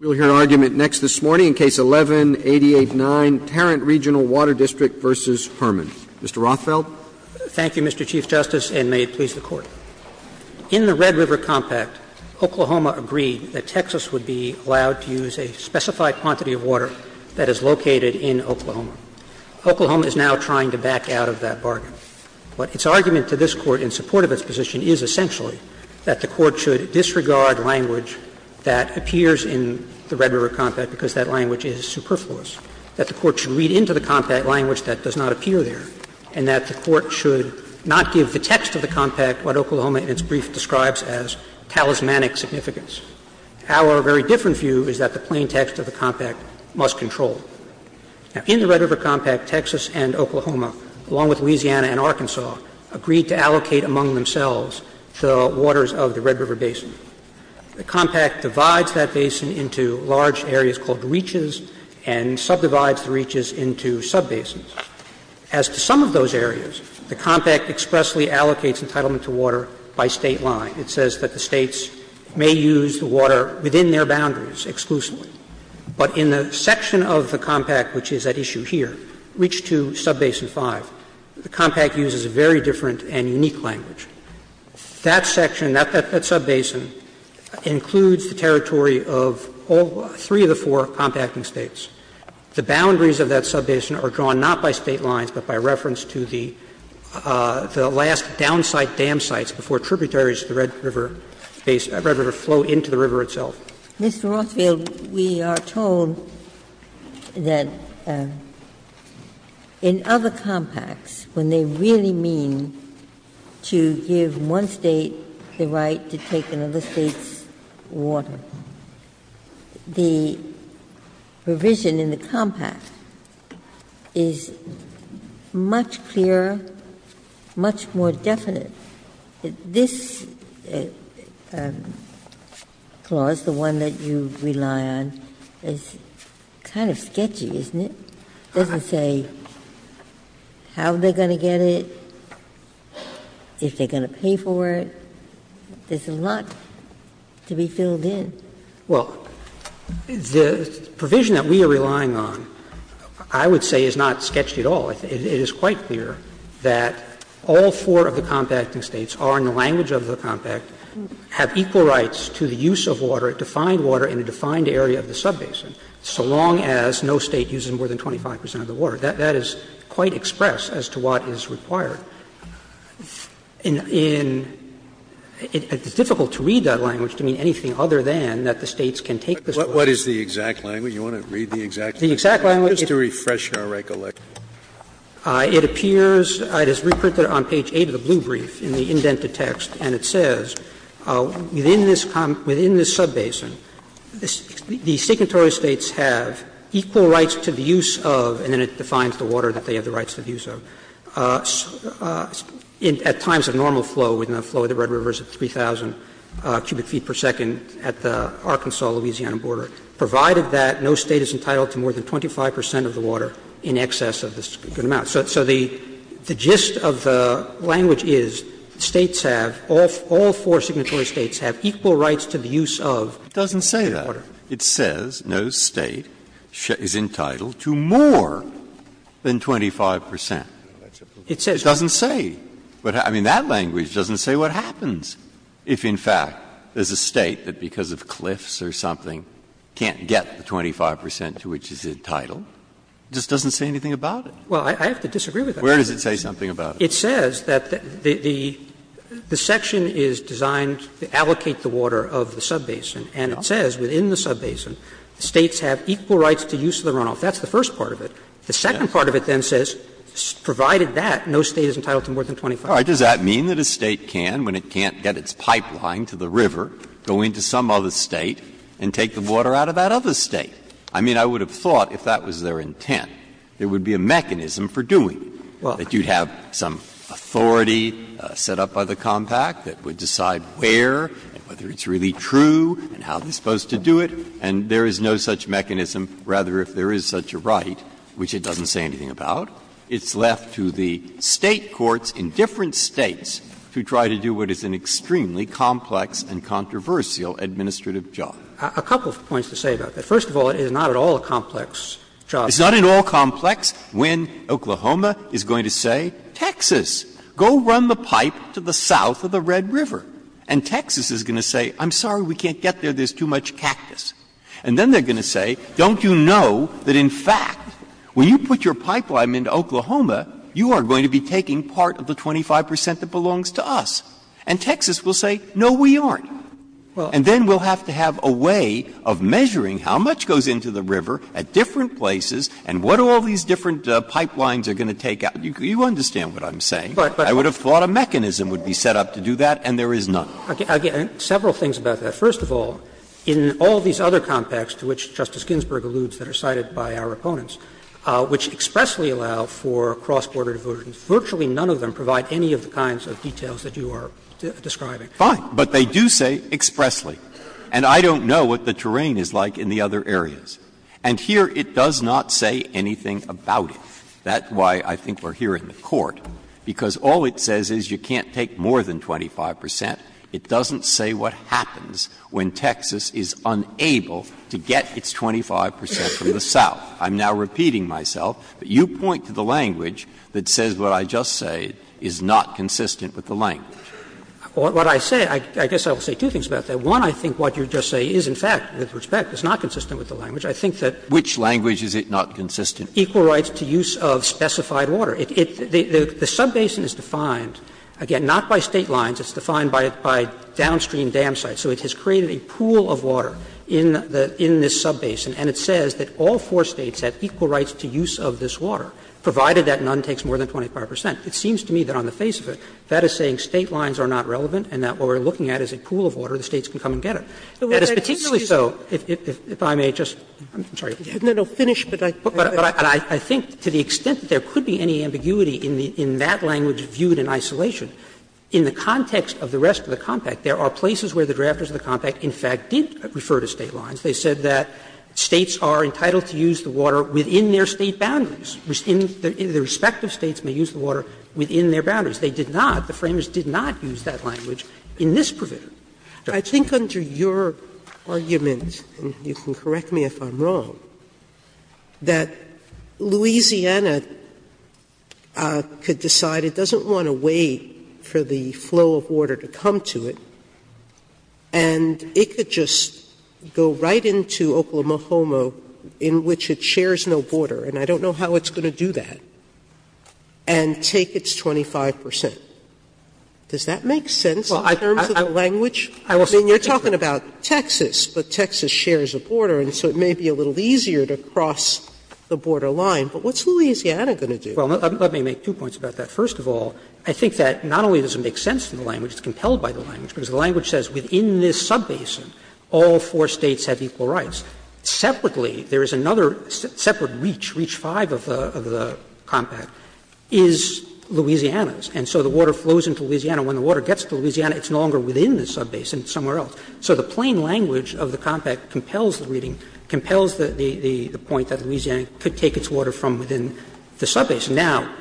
Mr. Rothfeld? Thank you, Mr. Chief Justice, and may it please the Court. In the Red River Compact, Oklahoma agreed that Texas would be allowed to use a specified quantity of water that is located in Oklahoma. Oklahoma is now trying to back out of that bargain. But its argument to this Court in support of its position is essentially that the Court because that language is superfluous, that the Court should read into the Compact language that does not appear there, and that the Court should not give the text of the Compact what Oklahoma in its brief describes as talismanic significance. Our very different view is that the plain text of the Compact must control. In the Red River Compact, Texas and Oklahoma, along with Louisiana and Arkansas, agreed to allocate among themselves the waters of the Red River Basin. The Compact divides that basin into large areas called reaches and subdivides the reaches into subbasins. As to some of those areas, the Compact expressly allocates entitlement to water by State line. It says that the States may use the water within their boundaries exclusively. But in the section of the Compact, which is at issue here, Reach 2, Subbasin 5, the Compact uses a very different and unique language. That section, that subbasin, includes the territory of all three of the four compacting States. The boundaries of that subbasin are drawn not by State lines, but by reference to the last down-site dam sites before tributaries of the Red River flow into the river itself. Ginsburg. Mr. Rothfield, we are told that in other compacts, when they really mean to give one State the right to take another State's water, the provision in the Compact is much clearer, much more definite. This clause, the one that you rely on, is kind of sketchy, isn't it? It doesn't say how they're going to get it, if they're going to pay for it. There's a lot to be filled in. Well, the provision that we are relying on, I would say, is not sketchy at all. It is quite clear that all four of the compacting States are, in the language of the Compact, have equal rights to the use of water, defined water, in a defined area of the subbasin, so long as no State uses more than 25 percent of the water. That is quite express as to what is required. In the end, it's difficult to read that language to mean anything other than that the States can take this water. Scalia. What is the exact language? You want to read the exact language? The exact language is to refresh your recollection. It appears, it is reprinted on page 8 of the blue brief in the indented text, and it says, within this subbasin, the signatory States have equal rights to the use of, and then it defines the water that they have the rights to the use of, at times of normal flow, within the flow of the Red River at 3,000 cubic feet per second at the Arkansas-Louisiana border, provided that no State is entitled to more than 25 percent of the water in excess of this good amount. So the gist of the language is States have, all four signatory States have equal rights to the use of water. Breyer. It doesn't say that. It says no State is entitled to more than 25 percent. It doesn't say. I mean, that language doesn't say what happens if, in fact, there is a State that because of cliffs or something can't get the 25 percent to which it is entitled. It just doesn't say anything about it. Well, I have to disagree with that. Where does it say something about it? It says that the section is designed to allocate the water of the subbasin. And it says within the subbasin, States have equal rights to use of the runoff. That's the first part of it. The second part of it then says, provided that no State is entitled to more than 25 percent. Breyer. Does that mean that a State can, when it can't get its pipeline to the river, go into some other State and take the water out of that other State? I mean, I would have thought if that was their intent, there would be a mechanism for doing it, that you'd have some authority set up by the compact that would decide where and whether it's really true and how they're supposed to do it, and there is no such mechanism, rather, if there is such a right, which it doesn't say anything about. It's left to the State courts in different States to try to do what is an extremely complex and controversial administrative job. A couple of points to say about that. First of all, it is not at all a complex job. It's not at all complex when Oklahoma is going to say, Texas, go run the pipe to the south of the Red River, and Texas is going to say, I'm sorry, we can't get there, there's too much cactus. And then they're going to say, don't you know that, in fact, when you put your pipeline into Oklahoma, you are going to be taking part of the 25 percent that belongs to us? And Texas will say, no, we aren't. And then we'll have to have a way of measuring how much goes into the river at different places and what all these different pipelines are going to take out. You understand what I'm saying. I would have thought a mechanism would be set up to do that, and there is none. Roberts, again, several things about that. First of all, in all these other compacts to which Justice Ginsburg alludes that are cited by our opponents, which expressly allow for cross-border diversion, virtually none of them provide any of the kinds of details that you are describing. Breyer, but they do say expressly, and I don't know what the terrain is like in the other areas. And here it does not say anything about it. That's why I think we're here in the Court, because all it says is you can't take more than 25 percent. It doesn't say what happens when Texas is unable to get its 25 percent from the south. I'm now repeating myself, but you point to the language that says what I just said is not consistent with the language. What I say, I guess I will say two things about that. One, I think what you just say is, in fact, with respect, is not consistent with the language. I think that Which language is it not consistent? Equal rights to use of specified water. The subbasin is defined, again, not by State lines. It's defined by downstream dam sites. So it has created a pool of water in this subbasin, and it says that all four States have equal rights to use of this water, provided that none takes more than 25 percent. It seems to me that on the face of it, that is saying State lines are not relevant and that what we are looking at is a pool of water, the States can come and get it. That is particularly so, if I may just, I'm sorry. No, no, finish, but I think to the extent that there could be any ambiguity in that language viewed in isolation, in the context of the rest of the compact, there are places where the drafters of the compact, in fact, did refer to State lines. They said that States are entitled to use the water within their State boundaries. The respective States may use the water within their boundaries. They did not, the Framers did not use that language in this provision. Sotomayor, I think under your argument, and you can correct me if I'm wrong, that Louisiana could decide it doesn't want to wait for the flow of water to come to it, and it could just go right into Oklahoma-Homo, in which it shares no border, and I don't know how it's going to do that, and take its 25 percent. Does that make sense in terms of the language? I mean, you're talking about Texas, but Texas shares a border, and so it may be a little easier to cross the border line, but what's Louisiana going to do? Well, let me make two points about that. First of all, I think that not only does it make sense in the language, it's compelled by the language, because the language says within this subbasin, all four States have equal rights. Separately, there is another separate reach, reach 5 of the compact, is Louisiana's. And so the water flows into Louisiana. When the water gets to Louisiana, it's no longer within the subbasin, it's somewhere else. So the plain language of the compact compels the reading, compels the point that Louisiana could take its water from within the subbasin. Now,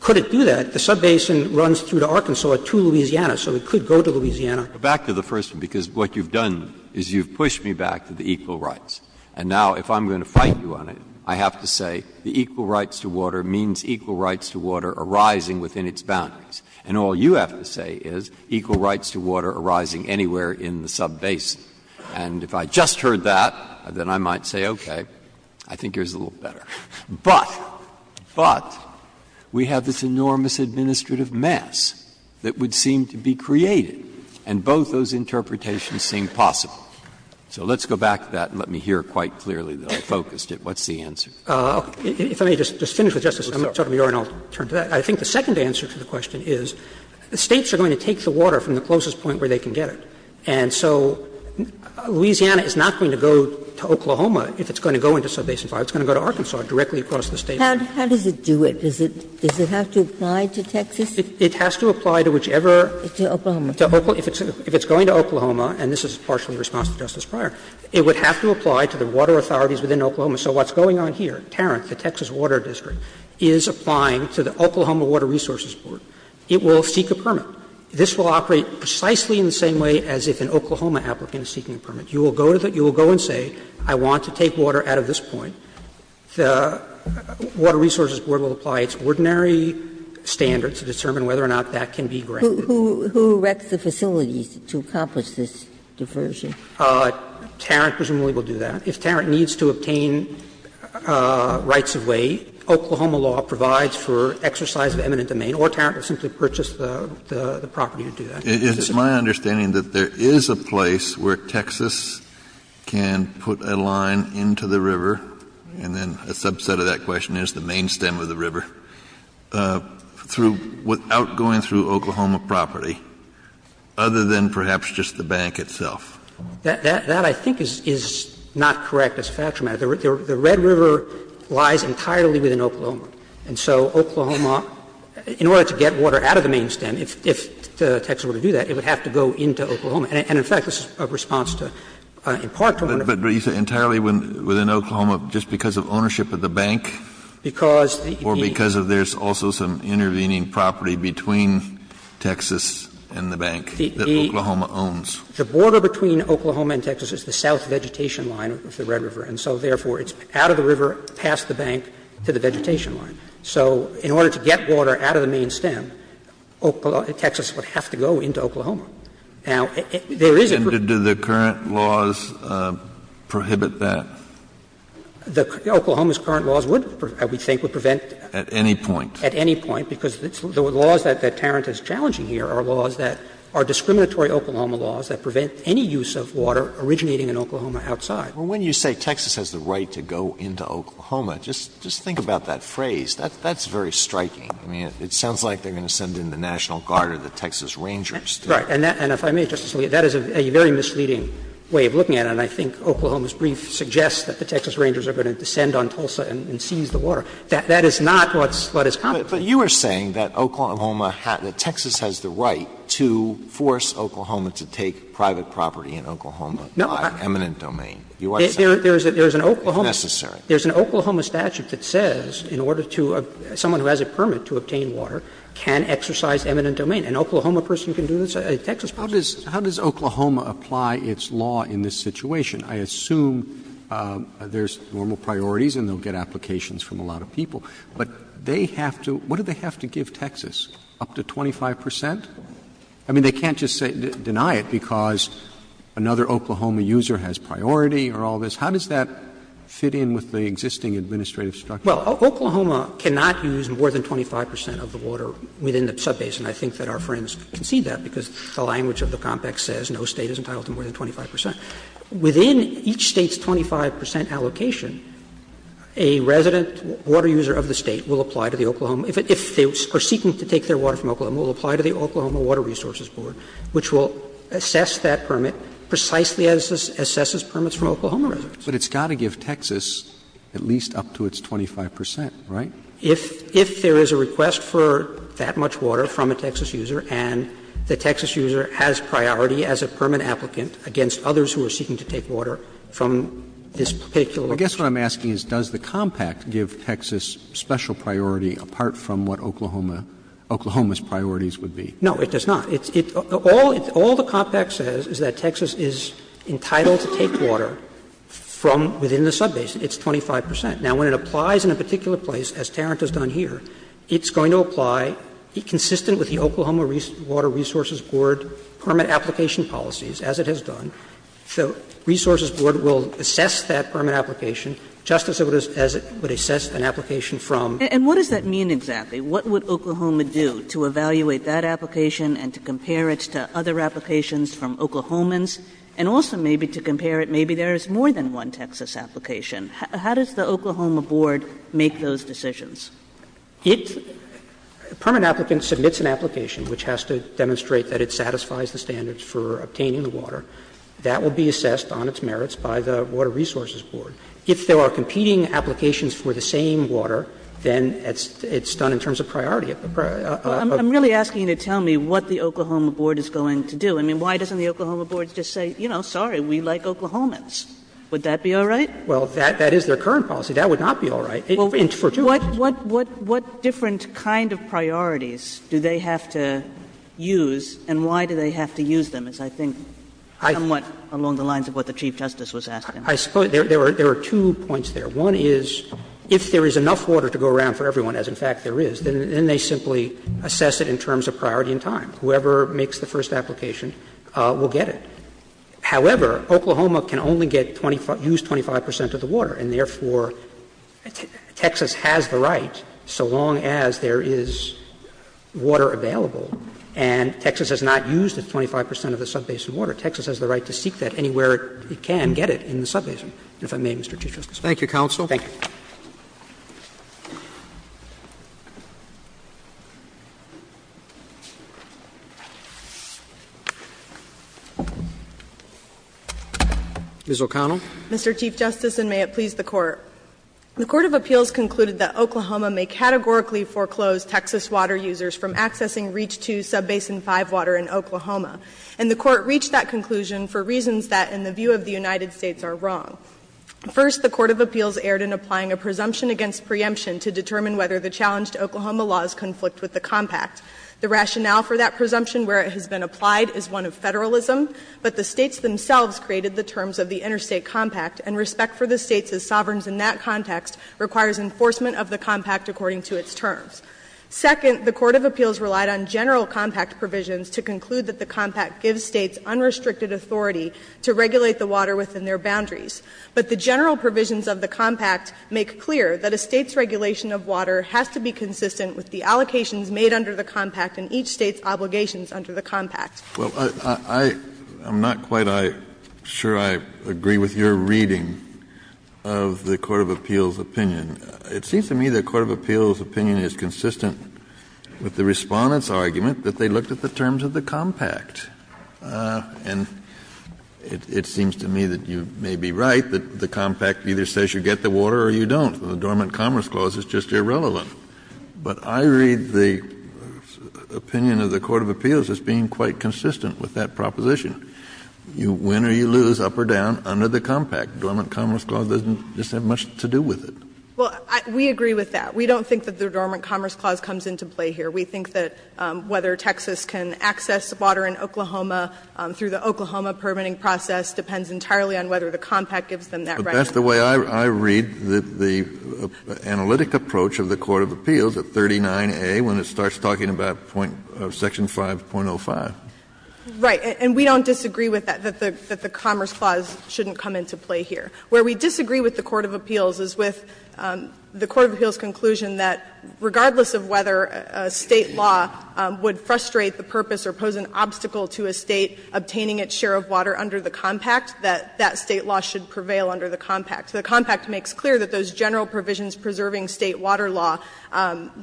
could it do that? The subbasin runs through to Arkansas to Louisiana, so it could go to Louisiana. Breyer, back to the first one, because what you've done is you've pushed me back to the equal rights. And now, if I'm going to fight you on it, I have to say the equal rights to water means equal rights to water arising within its boundaries. And all you have to say is equal rights to water arising anywhere in the subbasin. And if I just heard that, then I might say, okay, I think yours is a little better. But, but, we have this enormous administrative mess that would seem to be created, and both those interpretations seem possible. So let's go back to that and let me hear quite clearly, though, focused it. What's the answer? If I may just finish with Justice Sotomayor and I'll turn to that. I think the second answer to the question is the States are going to take the water from the closest point where they can get it. And so Louisiana is not going to go to Oklahoma if it's going to go into subbasin 5. It's going to go to Arkansas directly across the State line. Ginsburg. How does it do it? Does it have to apply to Texas? It has to apply to whichever. To Oklahoma. If it's going to Oklahoma, and this is partially in response to Justice Breyer, it would have to apply to the water authorities within Oklahoma. So what's going on here, Tarrant, the Texas Water District, is applying to the Oklahoma Water Resources Board. It will seek a permit. This will operate precisely in the same way as if an Oklahoma applicant is seeking a permit. You will go to the — you will go and say, I want to take water out of this point. The Water Resources Board will apply its ordinary standards to determine whether or not that can be granted. Ginsburg. Who wrecks the facilities to accomplish this diversion? Tarrant presumably will do that. If Tarrant needs to obtain rights of way, Oklahoma law provides for exercise of eminent domain, or Tarrant will simply purchase the property to do that. Kennedy. It's my understanding that there is a place where Texas can put a line into the river and then a subset of that question is the main stem of the river through — without going through Oklahoma property, other than perhaps just the bank itself. That, I think, is not correct as a factual matter. The Red River lies entirely within Oklahoma. And so Oklahoma, in order to get water out of the main stem, if Texas were to do that, it would have to go into Oklahoma. And, in fact, this is a response to, in part, to what I'm going to say. Kennedy. But you say entirely within Oklahoma just because of ownership of the bank? Or because of there's also some intervening property between Texas and the bank that Oklahoma owns? The border between Oklahoma and Texas is the south vegetation line of the Red River. And so, therefore, it's out of the river, past the bank, to the vegetation line. So in order to get water out of the main stem, Oklahoma — Texas would have to go into Oklahoma. Now, there is a group of laws that prohibit that. Oklahoma's current laws would, I would think, would prevent at any point, because the laws that Tarrant is challenging here are laws that are discriminatory Oklahoma laws that prevent any use of water originating in Oklahoma outside. Alito, when you say Texas has the right to go into Oklahoma, just think about that phrase. That's very striking. I mean, it sounds like they're going to send in the National Guard or the Texas Rangers. Right. And if I may, Justice Alito, that is a very misleading way of looking at it. And I think Oklahoma's brief suggests that the Texas Rangers are going to descend on Tulsa and seize the water. That is not what is competent. Alito, but you are saying that Oklahoma has — that Texas has the right to force Oklahoma to take private property in Oklahoma by eminent domain. You are saying that's necessary. There is an Oklahoma statute that says in order to — someone who has a permit to obtain water can exercise eminent domain. An Oklahoma person can do this, a Texas person can do this. How does Oklahoma apply its law in this situation? I assume there's normal priorities and they'll get applications from a lot of people, but they have to — what do they have to give Texas, up to 25 percent? I mean, they can't just say — deny it because another Oklahoma user has priority or all this. How does that fit in with the existing administrative structure? Well, Oklahoma cannot use more than 25 percent of the water within the subbasin. I think that our friends can see that because the language of the compact says no State is entitled to more than 25 percent. Within each State's 25 percent allocation, a resident water user of the State will apply to the Oklahoma — if they are seeking to take their water from Oklahoma, will apply to the Oklahoma Water Resources Board, which will assess that permit precisely as it assesses permits from Oklahoma residents. But it's got to give Texas at least up to its 25 percent, right? If there is a request for that much water from a Texas user and the Texas user has priority as a permit applicant against others who are seeking to take water from this particular — Well, I guess what I'm asking is, does the compact give Texas special priority apart from what Oklahoma — Oklahoma's priorities would be? No, it does not. It's — all — all the compact says is that Texas is entitled to take water from — within the subbasin. It's 25 percent. Now, when it applies in a particular place, as Tarrant has done here, it's going to apply, be consistent with the Oklahoma Water Resources Board permit application policies, as it has done. The Resources Board will assess that permit application just as it would assess an application from. And what does that mean exactly? What would Oklahoma do to evaluate that application and to compare it to other applications from Oklahomans? And also maybe to compare it, maybe there is more than one Texas application. How does the Oklahoma Board make those decisions? It — a permit applicant submits an application which has to demonstrate that it satisfies the standards for obtaining the water. That will be assessed on its merits by the Water Resources Board. If there are competing applications for the same water, then it's done in terms of priority of the — I'm really asking you to tell me what the Oklahoma Board is going to do. I mean, why doesn't the Oklahoma Board just say, you know, sorry, we like Oklahomans? Would that be all right? Well, that — that is their current policy. That would not be all right for two reasons. What different kind of priorities do they have to use, and why do they have to use them is, I think, somewhat along the lines of what the Chief Justice was asking. I suppose there are two points there. One is, if there is enough water to go around for everyone, as in fact there is, then they simply assess it in terms of priority and time. Whoever makes the first application will get it. However, Oklahoma can only get 25 — use 25 percent of the water, and therefore Texas has the right, so long as there is water available, and Texas has not used the 25 percent of the sub-basin water. Texas has the right to seek that anywhere it can get it in the sub-basin, if I may, Mr. Chief Justice. Roberts. Thank you, counsel. Thank you. Ms. O'Connell. Mr. Chief Justice, and may it please the Court. The court of appeals concluded that Oklahoma may categorically foreclose Texas water users from accessing Reach 2 sub-basin 5 water in Oklahoma, and the Court reached that conclusion for reasons that, in the view of the United States, are wrong. First, the court of appeals erred in applying a presumption against preemption to determine whether the challenged Oklahoma laws conflict with the compact. The rationale for that presumption, where it has been applied, is one of federalism, but the States themselves created the terms of the interstate compact, and respect for the States' sovereigns in that context requires enforcement of the compact according to its terms. Second, the court of appeals relied on general compact provisions to conclude that the compact gives States unrestricted authority to regulate the water within their boundaries. But the general provisions of the compact make clear that a State's regulation of water has to be consistent with the allocations made under the compact and each State's obligations under the compact. Kennedy, I'm not quite sure I agree with your reading of the court of appeals opinion. It seems to me the court of appeals opinion is consistent with the Respondent's argument that they looked at the terms of the compact. And it seems to me that you may be right, that the compact either says you get the water or you don't. The Dormant Commerce Clause is just irrelevant. But I read the opinion of the court of appeals as being quite consistent with that proposition. You win or you lose, up or down, under the compact. The Dormant Commerce Clause doesn't just have much to do with it. Well, we agree with that. We don't think that the Dormant Commerce Clause comes into play here. We think that whether Texas can access water in Oklahoma through the Oklahoma permitting process depends entirely on whether the compact gives them that right. Kennedy, that's the way I read the analytic approach of the court of appeals at 39A, when it starts talking about point of section 5.05. Right. And we don't disagree with that, that the Commerce Clause shouldn't come into play here. Where we disagree with the court of appeals is with the court of appeals' conclusion that regardless of whether a State law would frustrate the purpose or pose an obstacle to a State obtaining its share of water under the compact, that that State law should be consistent with each State's obligations under the compact. The compact makes clear that those general provisions preserving State water law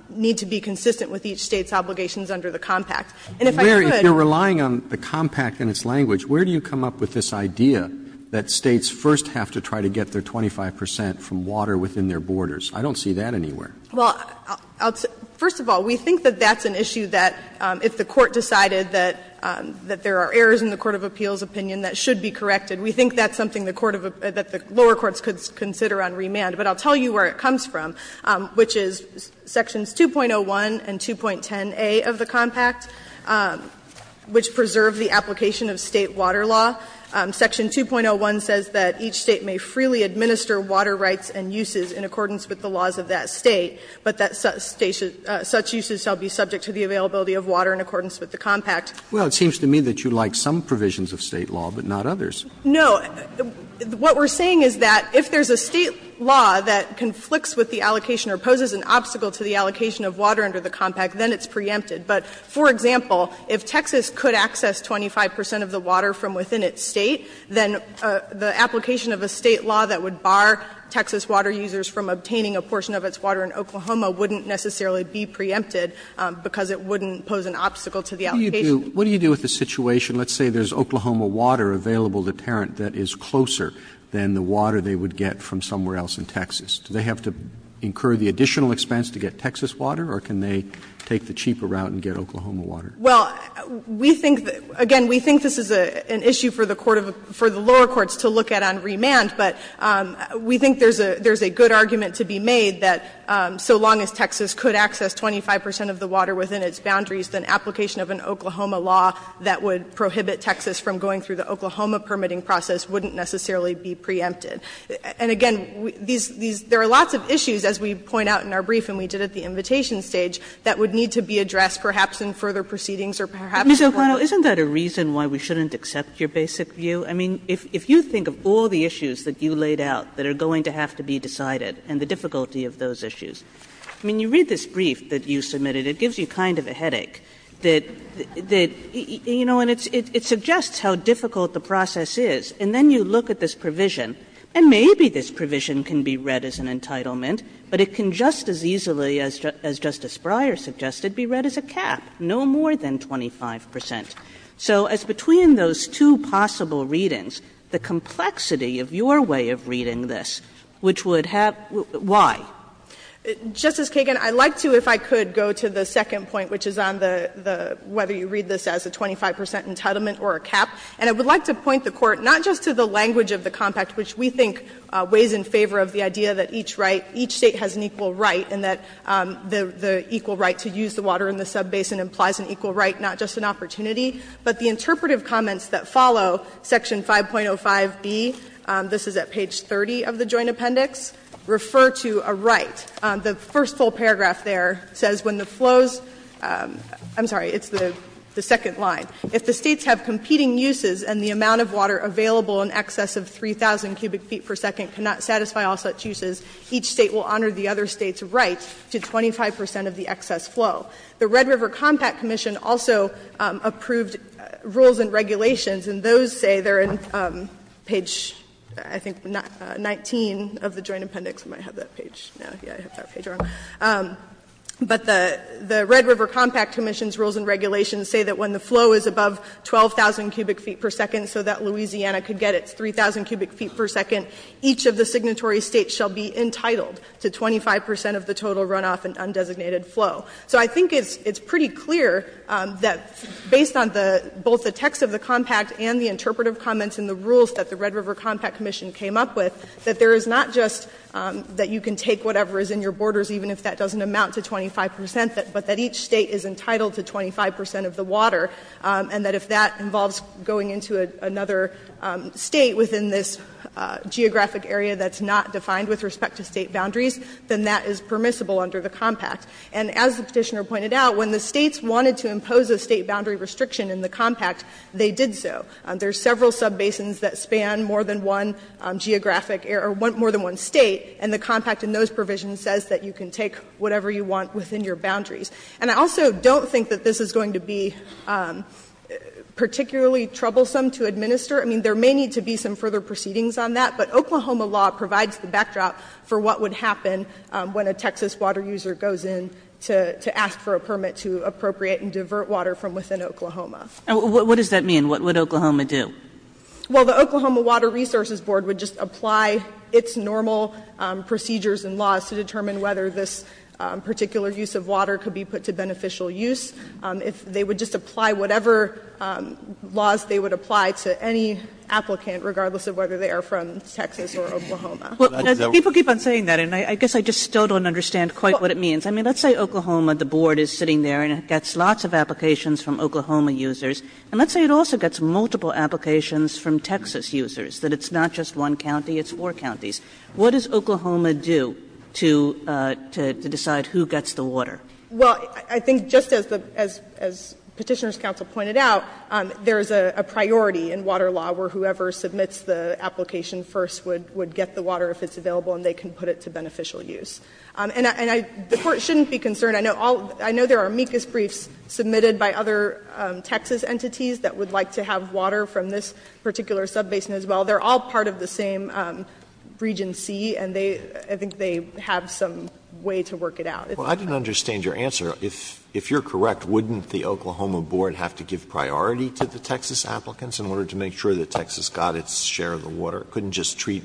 need to be consistent with each State's obligations under the compact. And if I could add to that, Justice Sotomayor, if you're relying on the compact and its language, where do you come up with this idea that States first have to try to get their 25 percent from water within their borders? I don't see that anywhere. Well, first of all, we think that that's an issue that if the Court decided that there are errors in the court of appeals' opinion, that should be corrected. We think that's something the lower courts could consider on remand. But I'll tell you where it comes from, which is sections 2.01 and 2.10a of the compact, which preserve the application of State water law. Section 2.01 says that each State may freely administer water rights and uses in accordance with the laws of that State, but that such uses shall be subject to the availability of water in accordance with the compact. Well, it seems to me that you like some provisions of State law, but not others. No. What we're saying is that if there's a State law that conflicts with the allocation or poses an obstacle to the allocation of water under the compact, then it's preempted. But, for example, if Texas could access 25 percent of the water from within its State, then the application of a State law that would bar Texas water users from obtaining a portion of its water in Oklahoma wouldn't necessarily be preempted because it wouldn't pose an obstacle to the allocation. What do you do with the situation, let's say there's Oklahoma water available to Tarrant that is closer than the water they would get from somewhere else in Texas? Do they have to incur the additional expense to get Texas water, or can they take the cheaper route and get Oklahoma water? Well, we think that, again, we think this is an issue for the lower courts to look at on remand, but we think there's a good argument to be made that so long as Texas could access 25 percent of the water within its boundaries, then application of an Oklahoma law that would prohibit Texas from going through the Oklahoma permitting process wouldn't necessarily be preempted. And, again, there are lots of issues, as we point out in our brief and we did at the invitation stage, that would need to be addressed perhaps in further proceedings or perhaps in court. Kagan. Kagan. Kagan. Kagan. Kagan. Kagan. Kagan. Kagan. Kagan. Kagan. Kagan. Kagan. Kagan. Kagan. Kagan. I think this brief that you submitted, it gives you kind of a headache that you know and it suggests how difficult the process is and then you look at this provision and maybe this provision can be read as an entitlement but it can just as easily as Justice Breyer's suggested be read as a cap. No more than 25 percent. So as between those two possible readings, the complexity of your way of reading this, which would have why? Justice Kagan, I'd like to, if I could, go to the second point, which is on the whether you read this as a 25 percent entitlement or a cap, and I would like to point the Court not just to the language of the compact, which we think weighs in favor of the idea that each right, each state has an equal right and that the equal right to use the water in the sub-basin implies an equal right, not just an opportunity, but the interpretive comments that follow Section 5.05b, this is at page 30 of the Joint Appendix, refer to a right. The first full paragraph there says when the flows – I'm sorry, it's the second line. If the States have competing uses and the amount of water available in excess of 3,000 cubic feet per second cannot satisfy all such uses, each State will honor the other State's rights to 25 percent of the excess flow. The Red River Compact Commission also approved rules and regulations, and those say they're in page, I think, 19 of the Joint Appendix. I might have that page now. Yeah, I have that page wrong. But the Red River Compact Commission's rules and regulations say that when the flow is above 12,000 cubic feet per second so that Louisiana could get its 3,000 cubic feet per second, each of the signatory States shall be entitled to 25 percent of the total runoff and undesignated flow. So I think it's pretty clear that based on both the text of the compact and the interpretive comments in the rules that the Red River Compact Commission came up with, that there is not just that you can take whatever is in your borders even if that doesn't amount to 25 percent, but that each State is entitled to 25 percent of the water, and that if that involves going into another State within this geographic area that's not defined with respect to State boundaries, then that is permissible under the compact. And as the Petitioner pointed out, when the States wanted to impose a State boundary restriction in the compact, they did so. There are several subbasins that span more than one geographic area or more than one State, and the compact in those provisions says that you can take whatever you want within your boundaries. And I also don't think that this is going to be particularly troublesome to administer. I mean, there may need to be some further proceedings on that, but Oklahoma law provides the backdrop for what would happen when a Texas water user goes in to ask for a permit to appropriate and divert water from within Oklahoma. Kagan. And what does that mean? What would Oklahoma do? Well, the Oklahoma Water Resources Board would just apply its normal procedures and laws to determine whether this particular use of water could be put to beneficial use. If they would just apply whatever laws they would apply to any applicant, regardless of whether they are from Texas or Oklahoma. Kagan. Well, people keep on saying that, and I guess I just still don't understand quite what it means. I mean, let's say Oklahoma, the Board is sitting there and it gets lots of applications from Oklahoma users, and let's say it also gets multiple applications from Texas users, that it's not just one county, it's four counties. What does Oklahoma do to decide who gets the water? Well, I think just as Petitioner's counsel pointed out, there is a priority in water law where whoever submits the application first would get the water if it's available and they can put it to beneficial use. And the Court shouldn't be concerned. I know there are amicus briefs submitted by other Texas entities that would like to have water from this particular subbasin as well. They are all part of the same Regency, and I think they have some way to work it out. Alito, I didn't understand your answer. If you are correct, wouldn't the Oklahoma Board have to give priority to the Texas applicants in order to make sure that Texas got its share of the water? It couldn't just treat,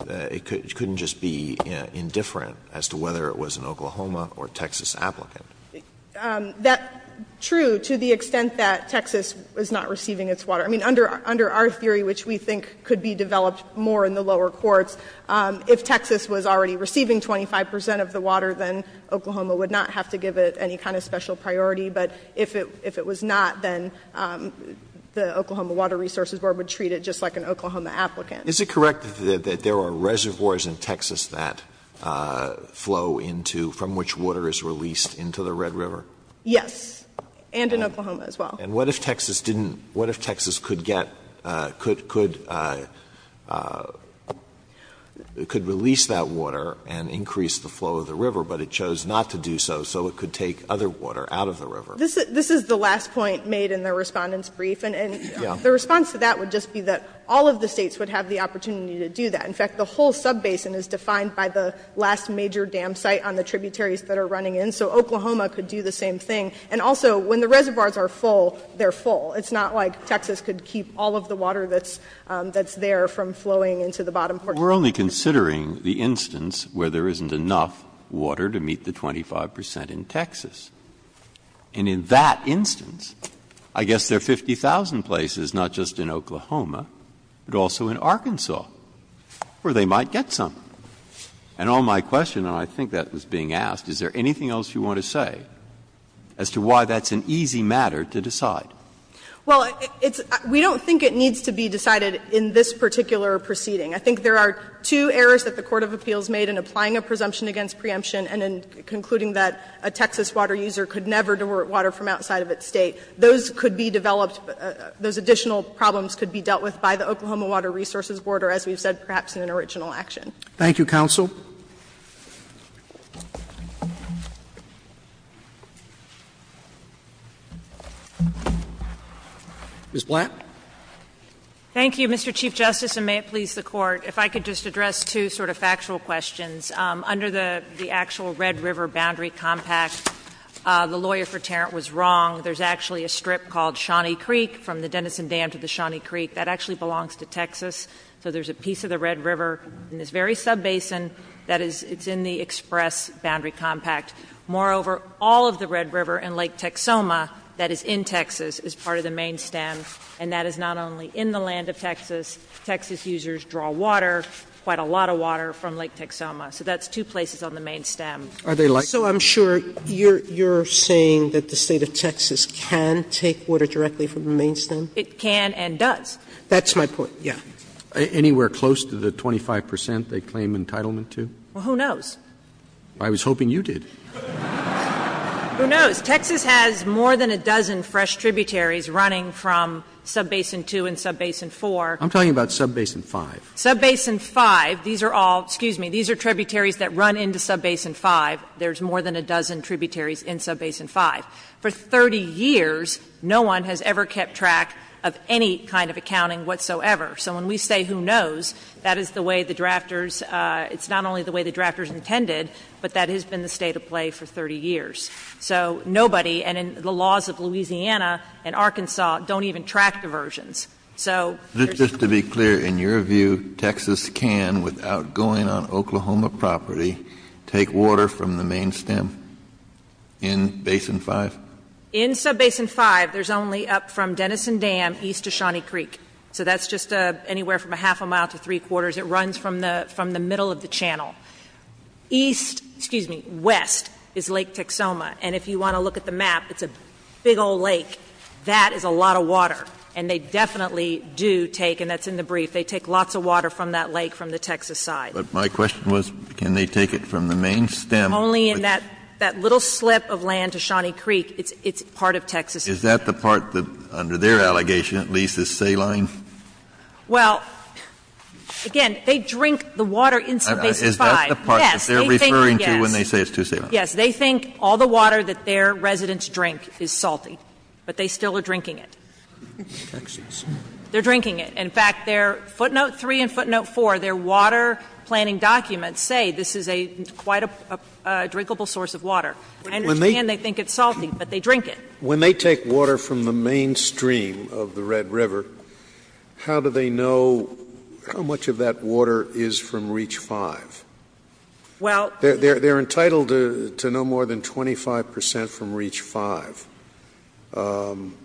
it couldn't just be indifferent as to whether it was an Oklahoma or Texas applicant. True, to the extent that Texas was not receiving its water. I mean, under our theory, which we think could be developed more in the lower courts, if Texas was already receiving 25 percent of the water, then Oklahoma would not have to give it any kind of special priority. But if it was not, then the Oklahoma Water Resources Board would treat it just like an Oklahoma applicant. Is it correct that there are reservoirs in Texas that flow into, from which water is released into the Red River? Yes, and in Oklahoma as well. And what if Texas didn't, what if Texas could get, could release that water and increase the flow of the river, but it chose not to do so, so it could take other water out of the river? This is the last point made in the Respondent's brief. And the response to that would just be that all of the States would have the opportunity to do that. In fact, the whole subbasin is defined by the last major dam site on the tributaries that are running in. So Oklahoma could do the same thing. And also, when the reservoirs are full, they're full. It's not like Texas could keep all of the water that's there from flowing into the bottom portion. Breyer. We're only considering the instance where there isn't enough water to meet the 25 percent in Texas. And in that instance, I guess there are 50,000 places, not just in Oklahoma, but also in Arkansas, where they might get some. And on my question, and I think that was being asked, is there anything else you want to say as to why that's an easy matter to decide? Well, it's — we don't think it needs to be decided in this particular proceeding. I think there are two errors that the court of appeals made in applying a presumption against preemption and in concluding that a Texas water user could never divert water from outside of its State. Those could be developed — those additional problems could be dealt with by the Oklahoma Water Resources Board, or as we've said, perhaps in an original action. Thank you, counsel. Ms. Blatt. Thank you, Mr. Chief Justice, and may it please the Court, if I could just address two sort of factual questions. Under the actual Red River Boundary Compact, the lawyer for Tarrant was wrong. There's actually a strip called Shawnee Creek, from the Denison Dam to the Shawnee Creek, that actually belongs to Texas. So there's a piece of the Red River in this very sub-basin that is — it's in the express boundary compact. Moreover, all of the Red River and Lake Texoma that is in Texas is part of the main stem, and that is not only in the land of Texas. Texas users draw water, quite a lot of water, from Lake Texoma. So that's two places on the main stem. Are they like — So I'm sure you're saying that the State of Texas can take water directly from the main stem? It can and does. That's my point, yes. Anywhere close to the 25 percent they claim entitlement to? Well, who knows? I was hoping you did. Who knows? Texas has more than a dozen fresh tributaries running from Subbasin 2 and Subbasin 4. I'm talking about Subbasin 5. Subbasin 5, these are all — excuse me — these are tributaries that run into Subbasin 5. There's more than a dozen tributaries in Subbasin 5. For 30 years, no one has ever kept track of any kind of accounting whatsoever. So when we say, who knows, that is the way the drafters — it's not only the way the drafters intended, but that has been the state of play for 30 years. So nobody — and the laws of Louisiana and Arkansas don't even track diversions. So there's — Just to be clear, in your view, Texas can, without going on Oklahoma property, take water from the main stem in Basin 5? In Subbasin 5, there's only up from Denison Dam east to Shawnee Creek. So that's just anywhere from a half a mile to three-quarters. It runs from the — from the middle of the channel. East — excuse me — west is Lake Texoma. And if you want to look at the map, it's a big old lake. That is a lot of water. And they definitely do take — and that's in the brief — they take lots of water from that lake from the Texas side. But my question was, can they take it from the main stem? Only in that — that little slip of land to Shawnee Creek, it's part of Texas. Is that the part that, under their allegation, at least, is saline? Well, again, they drink the water in Subbasin 5. Is that the part that they're referring to when they say it's too saline? Yes. They think all the water that their residents drink is salty, but they still are drinking it. They're drinking it. In fact, their footnote 3 and footnote 4, their water planning documents say this is a — quite a drinkable source of water. I understand they think it's salty, but they drink it. When they take water from the main stream of the Red River, how do they know how much of that water is from Reach 5? Well — They're entitled to no more than 25 percent from Reach 5.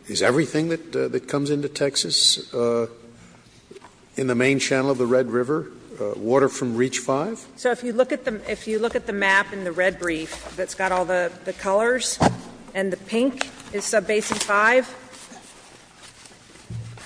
Is everything that comes into Texas in the main channel of the Red River water from Reach 5? So if you look at the — if you look at the map in the red brief that's got all the colors, and the pink is Subbasin 5,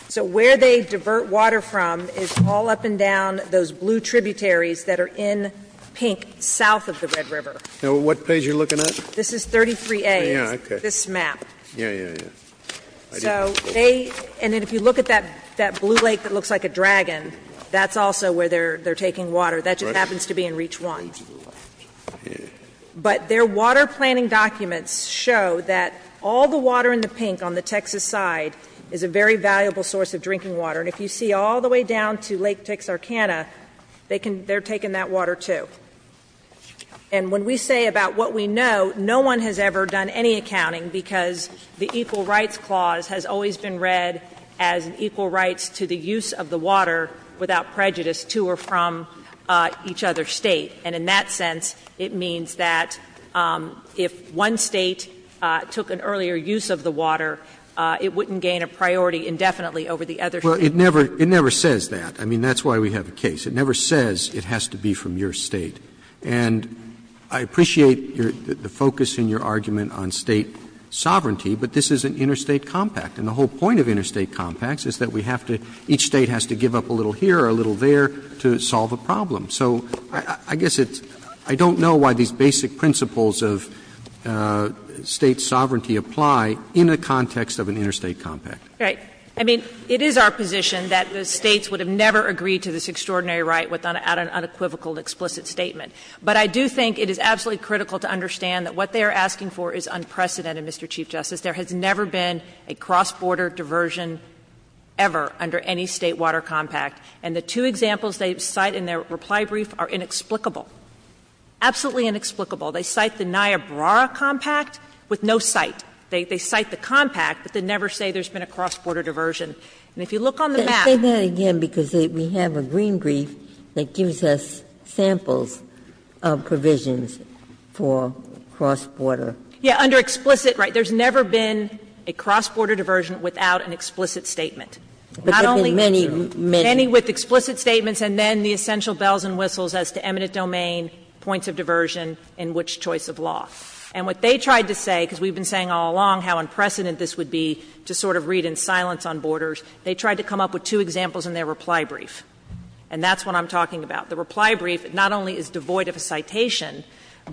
so where they divert water from is all up and down those blue tributaries that are in pink south of the Red River. Now, what page are you looking at? This is 33A. Oh, yeah. Okay. This map. Yeah, yeah, yeah. So they — and then if you look at that blue lake that looks like a dragon, that's also where they're taking water. That just happens to be in Reach 1. But their water planning documents show that all the water in the pink on the Texas side is a very valuable source of drinking water. And if you see all the way down to Lake Texarkana, they can — they're taking that water, too. And when we say about what we know, no one has ever done any accounting because the Equal Rights Clause has always been read as an equal rights to the use of the water without prejudice to or from each other's State. And in that sense, it means that if one State took an earlier use of the water, it wouldn't gain a priority indefinitely over the other State. Well, it never — it never says that. I mean, that's why we have a case. It never says it has to be from your State. And I appreciate your — the focus in your argument on State sovereignty, but this is an interstate compact. And the whole point of interstate compacts is that we have to — each State has to give up a little here or a little there to solve a problem. So I guess it's — I don't know why these basic principles of State sovereignty apply in the context of an interstate compact. Right. I mean, it is our position that the States would have never agreed to this extraordinary right without an unequivocal, explicit statement. But I do think it is absolutely critical to understand that what they are asking for is unprecedented, Mr. Chief Justice. There has never been a cross-border diversion ever under any State water compact. And the two examples they cite in their reply brief are inexplicable, absolutely inexplicable. They cite the Niobrara compact with no cite. They cite the compact, but they never say there's been a cross-border diversion. And if you look on the map — Ginsburg. Say that again, because we have a green brief that gives us samples of provisions for cross-border. Yeah, under explicit, right. There's never been a cross-border diversion without an explicit statement. Not only — Any with explicit statements and then the essential bells and whistles as to eminent domain, points of diversion, and which choice of law. And what they tried to say, because we've been saying all along how unprecedented this would be to sort of read in silence on borders, they tried to come up with two examples in their reply brief. And that's what I'm talking about. The reply brief not only is devoid of a citation,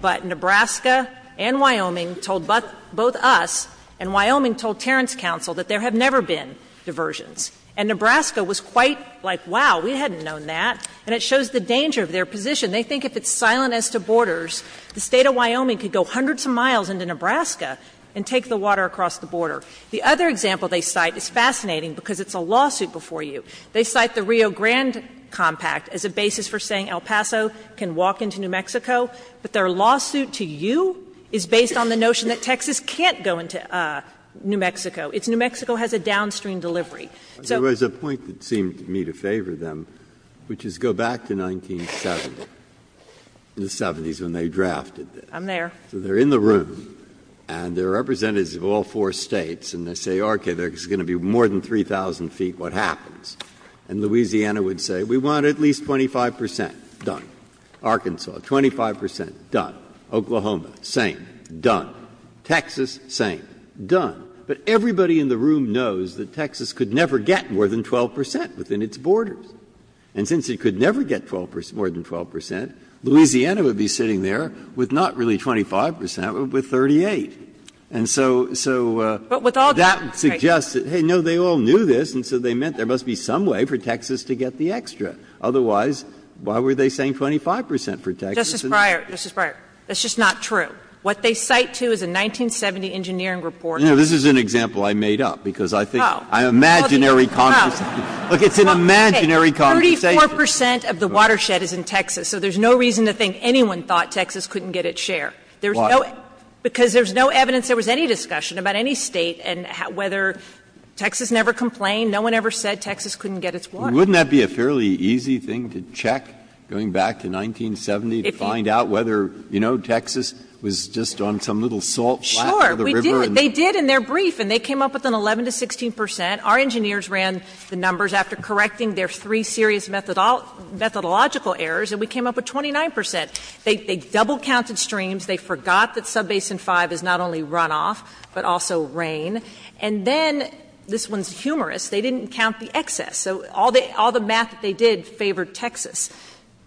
but Nebraska and Wyoming told both us and Wyoming told Terrence Council that there have never been diversions. And Nebraska was quite like, wow, we hadn't known that. And it shows the danger of their position. They think if it's silent as to borders, the State of Wyoming could go hundreds of miles into Nebraska and take the water across the border. The other example they cite is fascinating because it's a lawsuit before you. They cite the Rio Grande compact as a basis for saying El Paso can walk into New Mexico, but their lawsuit to you is based on the notion that Texas can't go into New Mexico. It's New Mexico has a downstream delivery. So there was a point that seemed to me to favor them, which is go back to 1970, the 70s, when they drafted this. I'm there. So they're in the room and they're representatives of all four States and they say, okay, there's going to be more than 3,000 feet. What happens? And Louisiana would say, we want at least 25 percent done. Arkansas, 25 percent done. Oklahoma, same, done. Texas, same, done. But everybody in the room knows that Texas could never get more than 12 percent within its borders. And since it could never get more than 12 percent, Louisiana would be sitting there with not really 25 percent, but with 38. And so that suggests that, hey, no, they all knew this, and so they meant there must be some way for Texas to get the extra. Otherwise, why were they saying 25 percent for Texas? And so that's just not true. What they cite, too, is a 1970 engineering report. Breyer, this is an example I made up, because I think an imaginary conversation. Look, it's an imaginary conversation. 34 percent of the watershed is in Texas, so there's no reason to think anyone thought Texas couldn't get its share. Why? Because there's no evidence there was any discussion about any State and whether Texas never complained, no one ever said Texas couldn't get its water. Wouldn't that be a fairly easy thing to check, going back to 1970, to find out whether, you know, Texas was just on some little salt flat by the river? Sure. They did. They did in their brief, and they came up with an 11 to 16 percent. Our engineers ran the numbers after correcting their three serious methodological errors, and we came up with 29 percent. They double-counted streams. They forgot that Subbasin 5 is not only runoff, but also rain. And then, this one's humorous, they didn't count the excess. So all the math that they did favored Texas,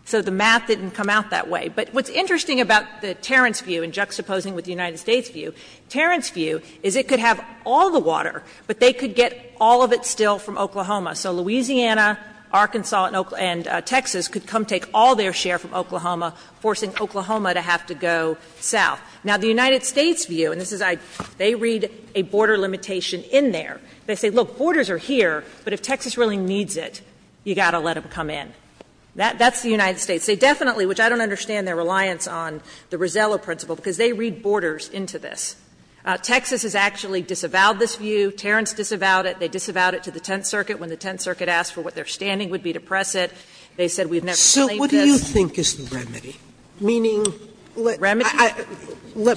so the math didn't come out that way. But what's interesting about the Terrance view, and juxtaposing with the United States view, Terrance view is it could have all the water, but they could get all of it still from Oklahoma. So Louisiana, Arkansas, and Texas could come take all their share from Oklahoma, forcing Oklahoma to have to go south. Now, the United States view, and this is why they read a border limitation in there. They say, look, borders are here, but if Texas really needs it, you've got to let them come in. That's the United States. They definitely, which I don't understand their reliance on the Rosello principle, because they read borders into this. Texas has actually disavowed this view. Terrance disavowed it. They disavowed it to the Tenth Circuit when the Tenth Circuit asked for what their standing would be to press it. They said we've never believed this. Sotomayor, what do you think is the remedy? Meaning, let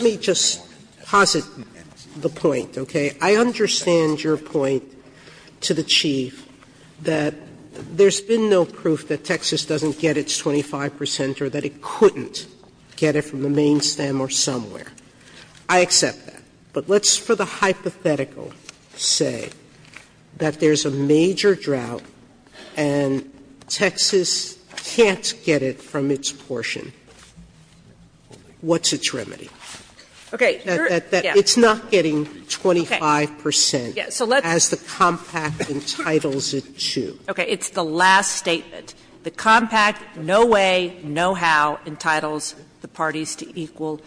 me just posit the point, okay? I understand your point to the Chief that there's been no proof that Texas doesn't get its 25 percent or that it couldn't get it from the main stem or somewhere. I accept that. But let's, for the hypothetical, say that there's a major drought and Texas can't get it from its portion. What's its remedy? That it's not getting 25 percent as the compact entitles it to. Okay. It's the last statement. The compact, no way, no how, entitles the parties to equal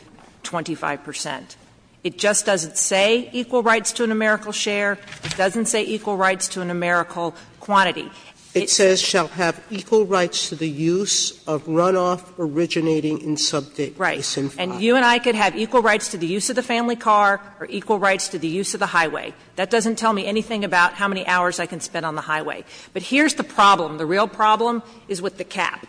25 percent. It just doesn't say equal rights to a numerical share. It doesn't say equal rights to a numerical quantity. It says, Sotomayor, shall have equal rights to the use of runoff originating in subject S&P 500. Right. And you and I could have equal rights to the use of the family car or equal rights to the use of the highway. That doesn't tell me anything about how many hours I can spend on the highway. But here's the problem. The real problem is with the cap.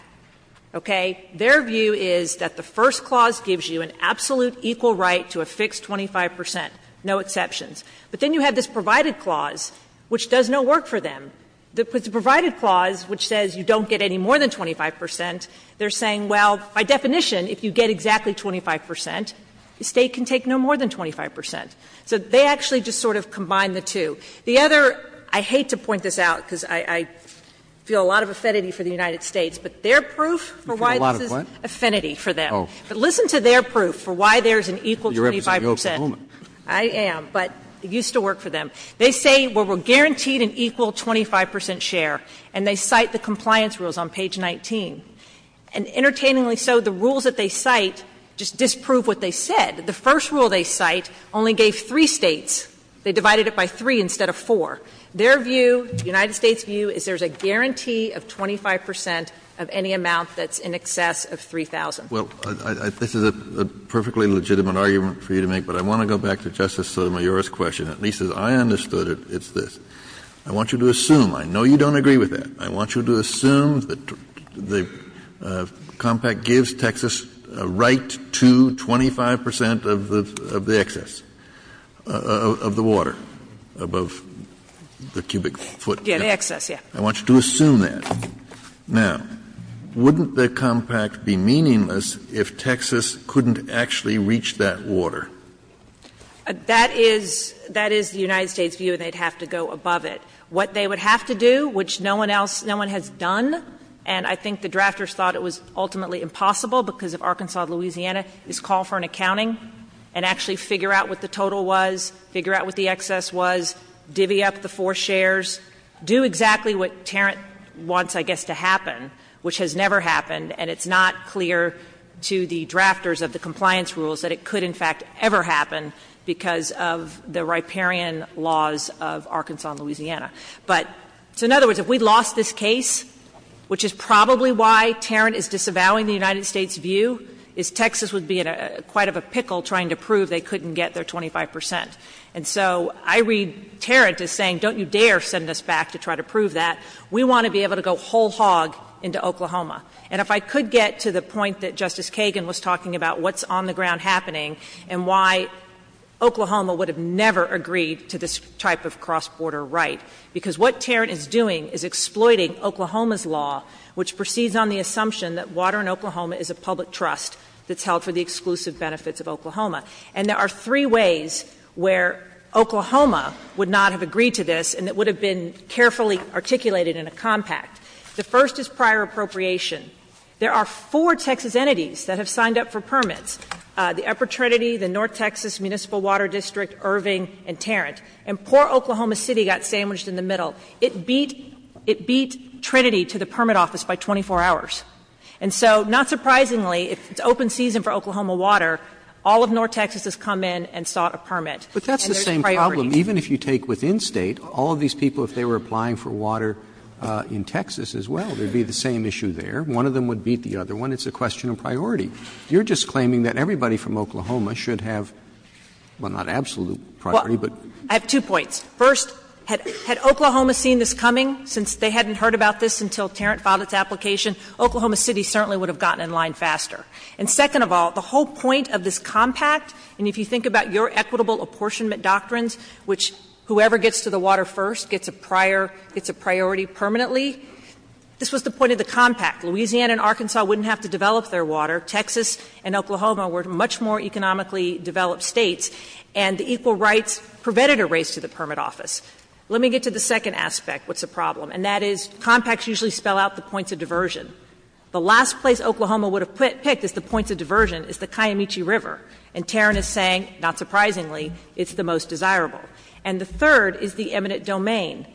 Okay. Their view is that the first clause gives you an absolute equal right to a fixed 25 percent, no exceptions. But then you have this provided clause, which does no work for them. The provided clause, which says you don't get any more than 25 percent, they're saying, well, by definition, if you get exactly 25 percent, the State can take no more than 25 percent. So they actually just sort of combine the two. The other, I hate to point this out, because I feel a lot of affinity for the United States, but their proof for why this is affinity for them. But listen to their proof for why there's an equal 25 percent. I am, but it used to work for them. They say, well, we're guaranteed an equal 25 percent share, and they cite the compliance rules on page 19. And entertainingly so, the rules that they cite just disprove what they said. The first rule they cite only gave three States. They divided it by three instead of four. Their view, the United States' view, is there's a guarantee of 25 percent of any amount that's in excess of 3,000. Kennedy, this is a perfectly legitimate argument for you to make, but I want to go back to Justice Sotomayor's question. At least as I understood it, it's this. I want you to assume, I know you don't agree with that, I want you to assume that the Compact gives Texas a right to 25 percent of the excess, of the water, above the cubic foot. Yeah, the excess, yeah. I want you to assume that. Now, wouldn't the Compact be meaningless if Texas couldn't actually reach that water? That is the United States' view, and they'd have to go above it. What they would have to do, which no one else, no one has done, and I think the drafters thought it was ultimately impossible because of Arkansas, Louisiana, is call for an accounting and actually figure out what the total was, figure out what the excess was, divvy up the four shares, do exactly what Tarrant wants, I guess, to happen, which has never happened, and it's not clear to the drafters of the compliance rules that it could, in fact, ever happen because of the riparian laws of Arkansas and Louisiana. But, so in other words, if we lost this case, which is probably why Tarrant is disavowing the United States' view, is Texas would be in a quite of a pickle trying to prove they couldn't get their 25 percent. And so I read Tarrant as saying, don't you dare send us back to try to prove that. We want to be able to go whole hog into Oklahoma. And if I could get to the point that Justice Kagan was talking about, what's on the ground happening, and why Oklahoma would have never agreed to this type of cross-border right, because what Tarrant is doing is exploiting Oklahoma's law, which proceeds on the assumption that water in Oklahoma is a public trust that's held for the exclusive benefits of Oklahoma. And there are three ways where Oklahoma would not have agreed to this and it would have been carefully articulated in a compact. The first is prior appropriation. There are four Texas entities that have signed up for permits, the Upper Trinity, the North Texas Municipal Water District, Irving, and Tarrant. And poor Oklahoma City got sandwiched in the middle. It beat Trinity to the permit office by 24 hours. And so, not surprisingly, if it's open season for Oklahoma water, all of North Texas has come in and sought a permit. And there's a priority. Roberts, even if you take within State, all of these people, if they were applying for water in Texas as well, there would be the same issue there. One of them would beat the other one. It's a question of priority. You're just claiming that everybody from Oklahoma should have, well, not absolute priority, but. I have two points. First, had Oklahoma seen this coming, since they hadn't heard about this until Tarrant filed its application, Oklahoma City certainly would have gotten in line faster. And second of all, the whole point of this compact, and if you think about your equitable apportionment doctrines, which whoever gets to the water first gets a prior, gets a priority permanently, this was the point of the compact. Louisiana and Arkansas wouldn't have to develop their water. Texas and Oklahoma were much more economically developed States. And the equal rights prevented a race to the permit office. Let me get to the second aspect, what's the problem. And that is compacts usually spell out the points of diversion. The last place Oklahoma would have picked as the points of diversion is the Kiamichi River. And Tarrant is saying, not surprisingly, it's the most desirable. And the third is the eminent domain.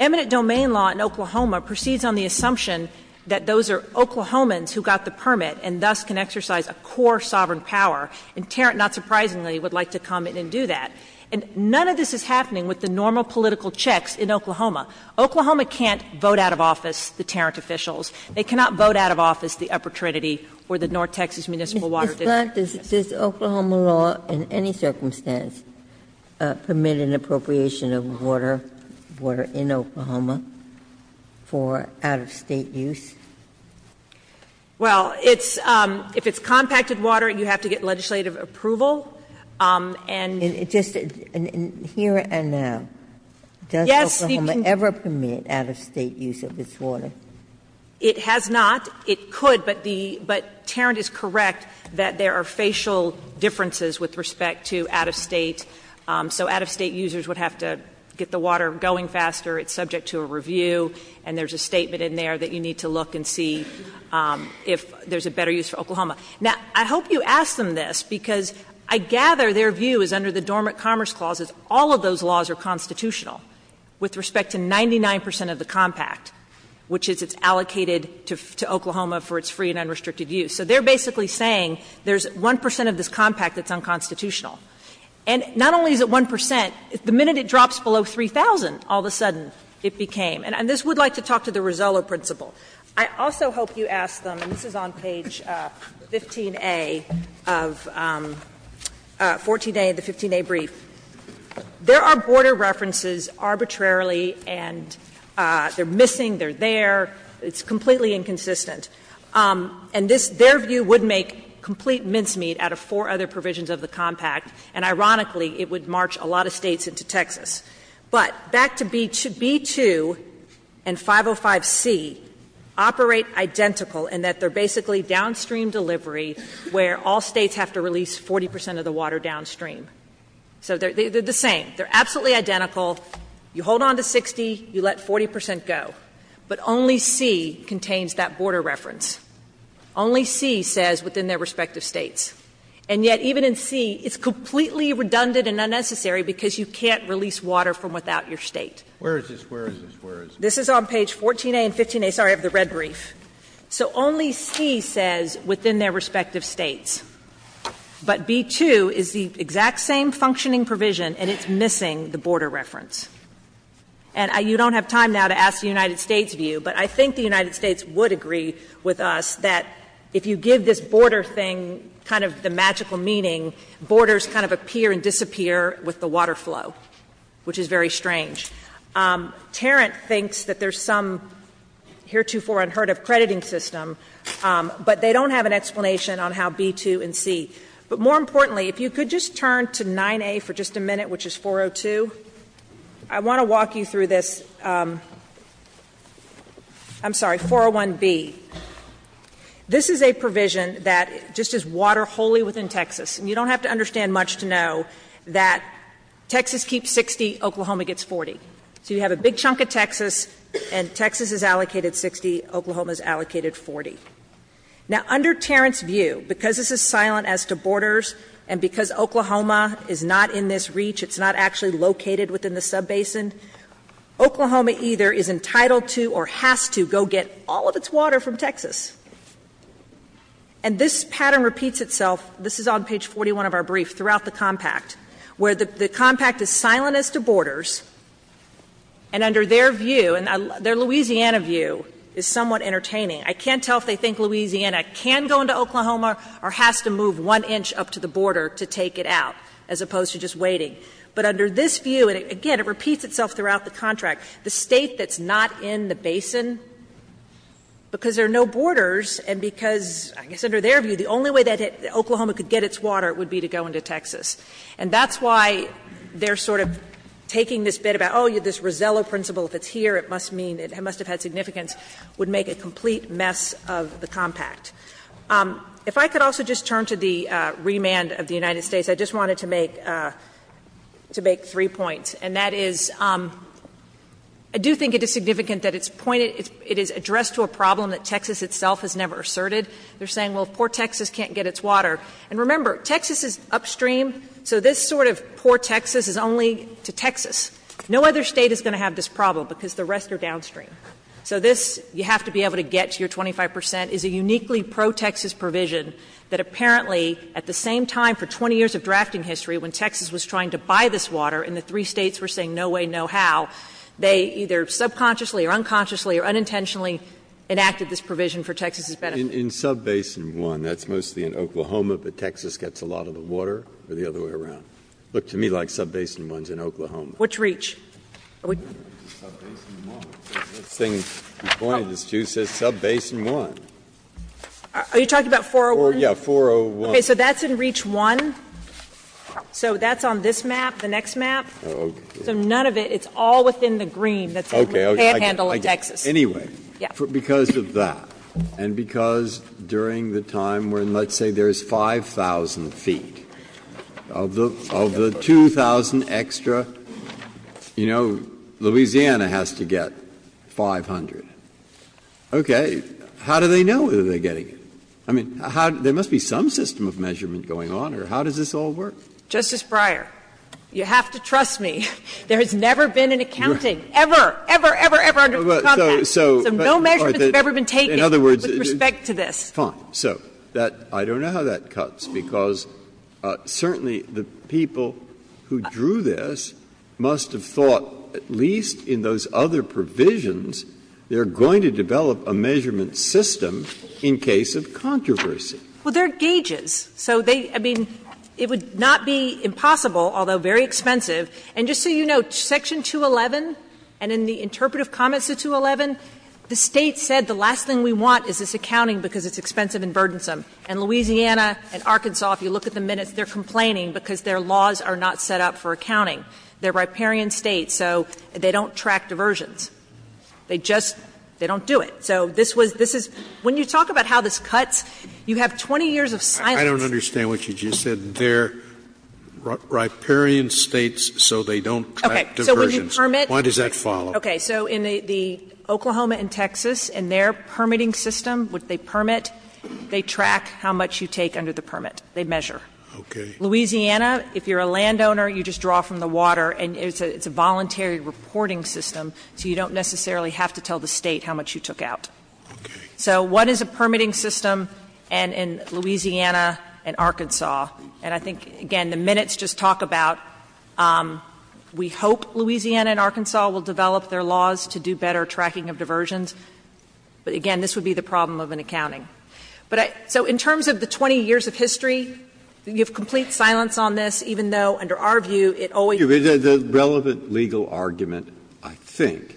Eminent domain law in Oklahoma proceeds on the assumption that those are Oklahomans who got the permit and thus can exercise a core sovereign power. And Tarrant, not surprisingly, would like to come in and do that. And none of this is happening with the normal political checks in Oklahoma. Oklahoma can't vote out of office the Tarrant officials. They cannot vote out of office the Upper Trinity or the North Texas Municipal Water District. Ginsburg. Does Oklahoma law in any circumstance permit an appropriation of water, water in Oklahoma for out-of-State use? Well, it's – if it's compacted water, you have to get legislative approval. And it just – here and now, does Oklahoma ever permit out-of-State use of its water? It has not. It could, but the – but Tarrant is correct that there are facial differences with respect to out-of-State. So out-of-State users would have to get the water going faster. It's subject to a review, and there's a statement in there that you need to look and see if there's a better use for Oklahoma. Now, I hope you ask them this, because I gather their view is under the Dormant Commerce Clause is all of those laws are constitutional with respect to 99 percent of the compact, which is it's allocated to Oklahoma for its free and unrestricted use. So they're basically saying there's 1 percent of this compact that's unconstitutional. And not only is it 1 percent, the minute it drops below 3,000, all of a sudden it became. And this would like to talk to the Rizzolo principle. I also hope you ask them, and this is on page 15a of 14a of the 15a brief, there are border references arbitrarily, and they're missing, they're there, it's completely inconsistent. And this – their view would make complete mincemeat out of four other provisions of the compact, and ironically, it would march a lot of States into Texas. But back to B2 and 505C operate identical in that they're basically downstream delivery where all States have to release 40 percent of the water downstream. So they're the same. They're absolutely identical. You hold on to 60, you let 40 percent go. But only C contains that border reference. Only C says within their respective States. And yet, even in C, it's completely redundant and unnecessary because you can't release water from without your State. This is on page 14a and 15a, sorry, of the red brief. So only C says within their respective States. But B2 is the exact same functioning provision, and it's missing the border reference. And you don't have time now to ask the United States' view, but I think the United kind of the magical meaning, borders kind of appear and disappear with the water flow, which is very strange. Tarrant thinks that there's some heretofore unheard of crediting system, but they don't have an explanation on how B2 and C. But more importantly, if you could just turn to 9a for just a minute, which is 402. I want to walk you through this. I'm sorry, 401B. This is a provision that just is water wholly within Texas. And you don't have to understand much to know that Texas keeps 60, Oklahoma gets 40. So you have a big chunk of Texas, and Texas is allocated 60, Oklahoma is allocated 40. Now, under Tarrant's view, because this is silent as to borders, and because Oklahoma is not in this reach, it's not actually located within the subbasin, Oklahoma either is entitled to or has to go get all of its water from Texas. And this pattern repeats itself. This is on page 41 of our brief, throughout the compact, where the compact is silent as to borders, and under their view, and their Louisiana view, is somewhat entertaining. I can't tell if they think Louisiana can go into Oklahoma or has to move one inch up to the border to take it out, as opposed to just waiting. But under this view, and again, it repeats itself throughout the contract, the State that's not in the basin, because there are no borders, and because, I guess under their view, the only way that Oklahoma could get its water would be to go into Texas. And that's why they're sort of taking this bet about, oh, this Rosello principle, if it's here, it must mean it must have had significance, would make a complete mess of the compact. If I could also just turn to the remand of the United States, I just wanted to make three points, and that is, I do think it is significant that it's pointed, it is addressed to a problem that Texas itself has never asserted. They're saying, well, if poor Texas can't get its water, and remember, Texas is upstream, so this sort of poor Texas is only to Texas. No other State is going to have this problem, because the rest are downstream. So this, you have to be able to get to your 25 percent, is a uniquely pro-Texas provision that apparently, at the same time, for 20 years of drafting history, when Texas was trying to buy this water, and the three States were saying no way, no how, they either subconsciously or unconsciously or unintentionally enacted this provision for Texas' benefit. Breyer, in Subbasin 1, that's mostly in Oklahoma, but Texas gets a lot of the water or the other way around. It looked to me like Subbasin 1 is in Oklahoma. Which reach? Are we? Subbasin 1. The thing you pointed to says Subbasin 1. Are you talking about 401? Yeah, 401. Okay. So that's in Reach 1? So that's on this map, the next map? So none of it, it's all within the green that's what we can't handle in Texas. Anyway, because of that, and because during the time when let's say there's 5,000 feet, of the 2,000 extra, you know, Louisiana has to get 500, okay, how do they know what they're getting? I mean, there must be some system of measurement going on, or how does this all work? Justice Breyer, you have to trust me. There has never been an accounting, ever, ever, ever, ever, under the Compact. So no measurements have ever been taken with respect to this. Fine. So I don't know how that cuts, because certainly the people who drew this must have thought, at least in those other provisions, they are going to develop a measurement system in case of controversy. Well, there are gauges. So they, I mean, it would not be impossible, although very expensive. And just so you know, Section 211 and in the interpretive comments of 211, the State said the last thing we want is this accounting because it's expensive and burdensome. And Louisiana and Arkansas, if you look at the minutes, they're complaining because their laws are not set up for accounting. They're riparian States, so they don't track diversions. They just, they don't do it. So this was, this is, when you talk about how this cuts, you have 20 years of silence. Scalia I don't understand what you just said. They're riparian States, so they don't track diversions. Why does that follow? So in the Oklahoma and Texas, in their permitting system, what they permit, they track how much you take under the permit. They measure. Louisiana, if you're a landowner, you just draw from the water, and it's a voluntary reporting system, so you don't necessarily have to tell the State how much you took out. So what is a permitting system in Louisiana and Arkansas? And I think, again, the minutes just talk about we hope Louisiana and Arkansas will develop their laws to do better tracking of diversions. But, again, this would be the problem of an accounting. But I, so in terms of the 20 years of history, you have complete silence on this, even though under our view it always. Breyer The relevant legal argument, I think,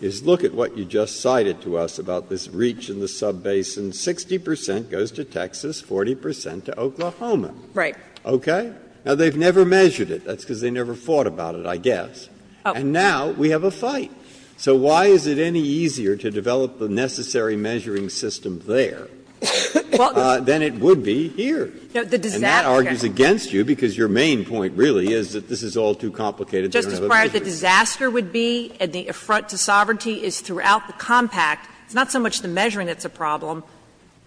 is look at what you just cited to us about this reach in the sub-basin. 60 percent goes to Texas, 40 percent to Oklahoma. Okay? Now, they've never measured it. That's because they never fought about it, I guess. And now we have a fight. So why is it any easier to develop the necessary measuring system there than it would be here? And that argues against you, because your main point really is that this is all too complicated. Sotomayor Justice Breyer, the disaster would be, and the affront to sovereignty is throughout the compact. It's not so much the measuring that's a problem.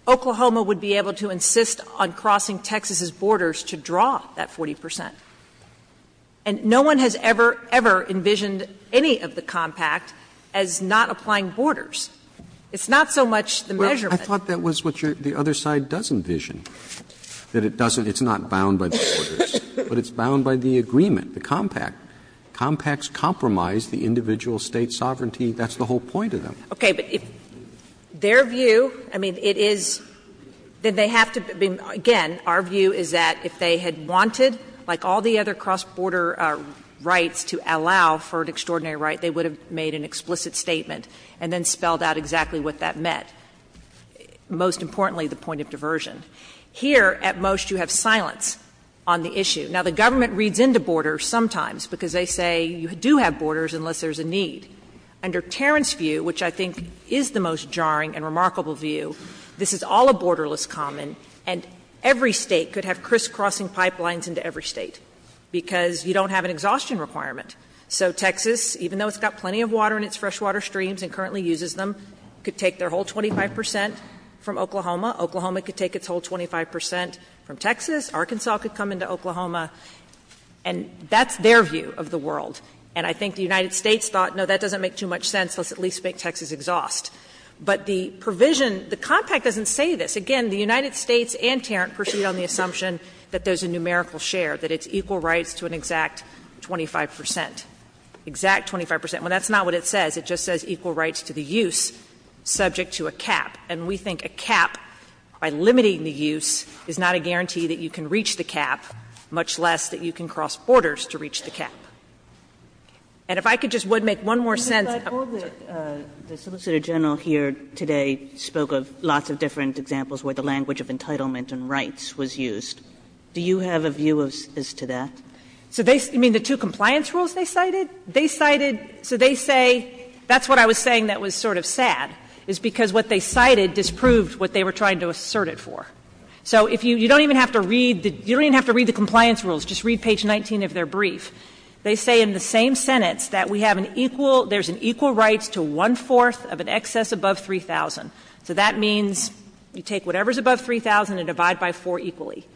Oklahoma would be able to insist on crossing Texas's borders to draw that 40 percent. And no one has ever, ever envisioned any of the compact as not applying borders. It's not so much the measurement. Roberts Well, I thought that was what the other side does envision, that it doesn't, it's not bound by the borders, but it's bound by the agreement, the compact. Compacts compromise the individual state's sovereignty. That's the whole point of them. Sotomayor Okay. But if their view, I mean, it is, then they have to be, again, our view is that if they had wanted, like all the other cross-border rights, to allow for an extraordinary right, they would have made an explicit statement and then spelled out exactly what that meant, most importantly the point of diversion. Here, at most, you have silence on the issue. Now, the government reads into borders sometimes because they say you do have borders unless there's a need. Under Terrance's view, which I think is the most jarring and remarkable view, this is all a borderless common, and every State could have crisscrossing pipelines into every State because you don't have an exhaustion requirement. So Texas, even though it's got plenty of water in its freshwater streams and currently uses them, could take their whole 25 percent from Oklahoma. Oklahoma could take its whole 25 percent from Texas. Arkansas could come into Oklahoma. And that's their view of the world. And I think the United States thought, no, that doesn't make too much sense, let's at least make Texas exhaust. But the provision, the compact doesn't say this. Again, the United States and Terrance proceed on the assumption that there's a numerical share, that it's equal rights to an exact 25 percent, exact 25 percent. Well, that's not what it says. It just says equal rights to the use subject to a cap. And we think a cap, by limiting the use, is not a guarantee that you can reach the cap, much less that you can cross borders to reach the cap. And if I could just, what, make one more sense of that. Kagan. Kagan. Kagan. Kagan. The Solicitor General here today spoke of lots of different examples, where the language of entitlement and rights was used. Do you have a view as to that? So, they, I mean, the two compliance rules they cited? They cited, so they say, that's what I was saying that was sort of sad, is because what they cited disproved what they were trying to assert it for. So, if you, you don't even have to read the, you don't even have to read the compliance rules, just read page 19 of their brief. They say in the same sentence that we have an equal, there's an equal rights to one fourth of an excess above 3,000. So, that means you take whatever's above 3,000 and divide by four equally.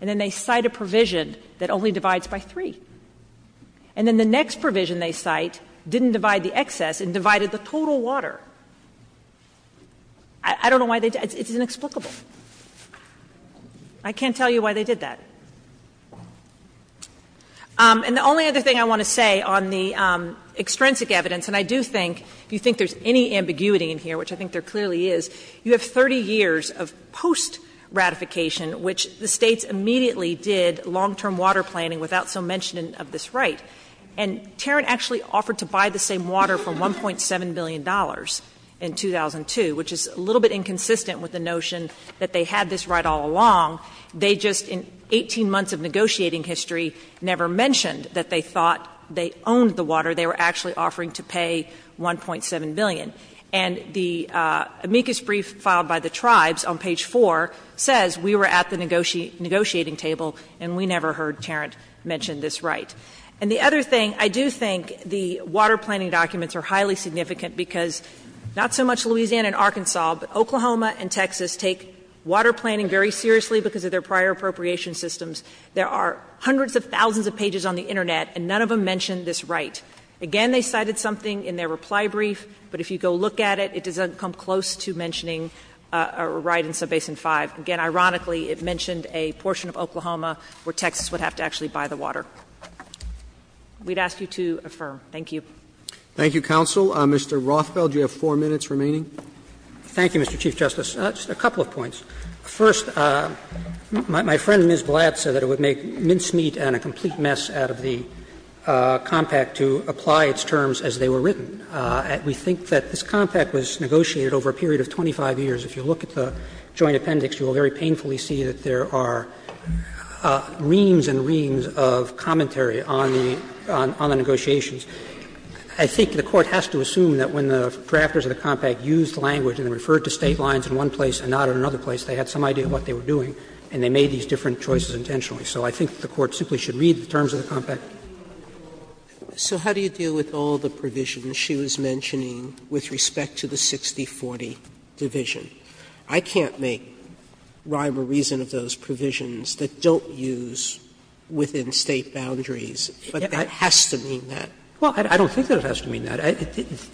And then they cite a provision that only divides by three. And then the next provision they cite didn't divide the excess and divided the total water. I don't know why they did that. It's inexplicable. I can't tell you why they did that. And the only other thing I want to say on the extrinsic evidence, and I do think if you think there's any ambiguity in here, which I think there clearly is, you have 30 years of post-ratification, which the States immediately did long-term water planning without so mentioning of this right. And Tarrant actually offered to buy the same water for $1.7 billion in 2002, which is a little bit inconsistent with the notion that they had this right all along. They just in 18 months of negotiating history never mentioned that they thought they owned the water. They were actually offering to pay $1.7 billion. And the amicus brief filed by the tribes on page four says we were at the negotiating table. And we never heard Tarrant mention this right. And the other thing, I do think the water planning documents are highly significant because not so much Louisiana and Arkansas, but Oklahoma and Texas take water planning very seriously because of their prior appropriation systems. There are hundreds of thousands of pages on the Internet and none of them mention this right. Again, they cited something in their reply brief, but if you go look at it, it doesn't come close to mentioning a right in Subbasin 5. Again, ironically, it mentioned a portion of Oklahoma where Texas would have to actually We'd ask you to affirm. Thank you. Roberts. Thank you, counsel. Mr. Rothfeld, you have four minutes remaining. Rothfeld, thank you, Mr. Chief Justice. Just a couple of points. First, my friend Ms. Blatt said that it would make mincemeat and a complete mess out of the compact to apply its terms as they were written. We think that this compact was negotiated over a period of 25 years. If you look at the joint appendix, you will very painfully see that there are reams and reams of commentary on the negotiations. I think the Court has to assume that when the drafters of the compact used language and referred to State lines in one place and not in another place, they had some idea of what they were doing and they made these different choices intentionally. So I think the Court simply should read the terms of the compact. Sotomayor, so how do you deal with all the provisions she was mentioning with respect to the 6040 division? I can't make rhyme or reason of those provisions that don't use within State boundaries, but that has to mean that. Well, I don't think that it has to mean that.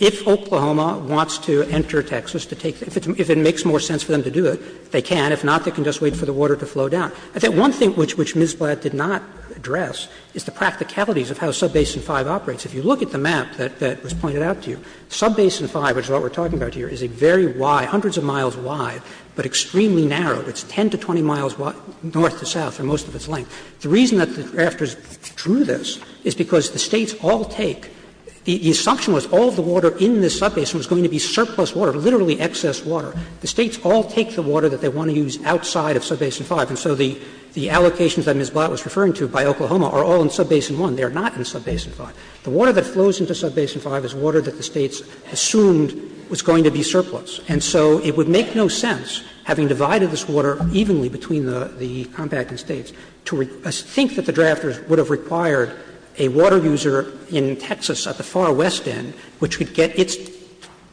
If Oklahoma wants to enter Texas to take the – if it makes more sense for them to do it, they can. If not, they can just wait for the water to flow down. I think one thing which Ms. Blatt did not address is the practicalities of how Subbasin 5 operates. If you look at the map that was pointed out to you, Subbasin 5, which is what we are talking about here, is a very wide, hundreds of miles wide, but extremely narrow. It's 10 to 20 miles north to south, or most of its length. The reason that the drafters drew this is because the States all take – the assumption was all of the water in this subbasin was going to be surplus water, literally excess water. The States all take the water that they want to use outside of Subbasin 5. And so the allocations that Ms. Blatt was referring to by Oklahoma are all in Subbasin 1. They are not in Subbasin 5. The water that flows into Subbasin 5 is water that the States assumed was going to be surplus. And so it would make no sense, having divided this water evenly between the compact states, to think that the drafters would have required a water user in Texas at the far west end, which would get its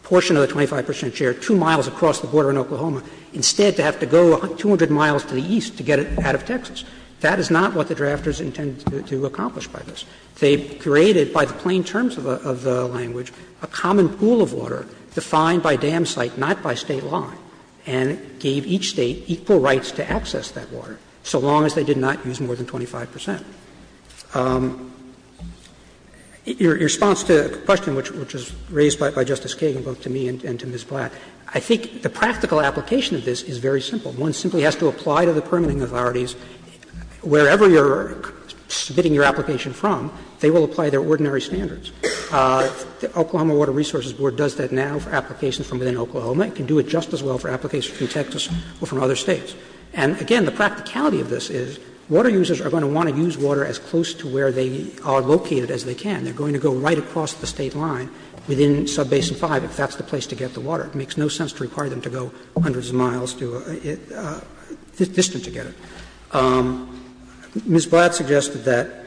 portion of the 25 percent share 2 miles across the border in Oklahoma, instead to have to go 200 miles to the east to get it out of Texas. That is not what the drafters intended to accomplish by this. They created, by the plain terms of the language, a common pool of water defined by dam site, not by State line, and gave each State equal rights to access that water so long as they did not use more than 25 percent. Your response to the question, which was raised by Justice Kagan, both to me and to Ms. Blatt, I think the practical application of this is very simple. One simply has to apply to the permitting authorities. Wherever you are submitting your application from, they will apply their ordinary standards. The Oklahoma Water Resources Board does that now for applications from within Oklahoma. It can do it just as well for applications from Texas or from other States. And, again, the practicality of this is water users are going to want to use water as close to where they are located as they can. They are going to go right across the State line within Subbasin 5 if that's the place to get the water. It makes no sense to require them to go hundreds of miles to get it, distant to get it. Ms. Blatt suggested that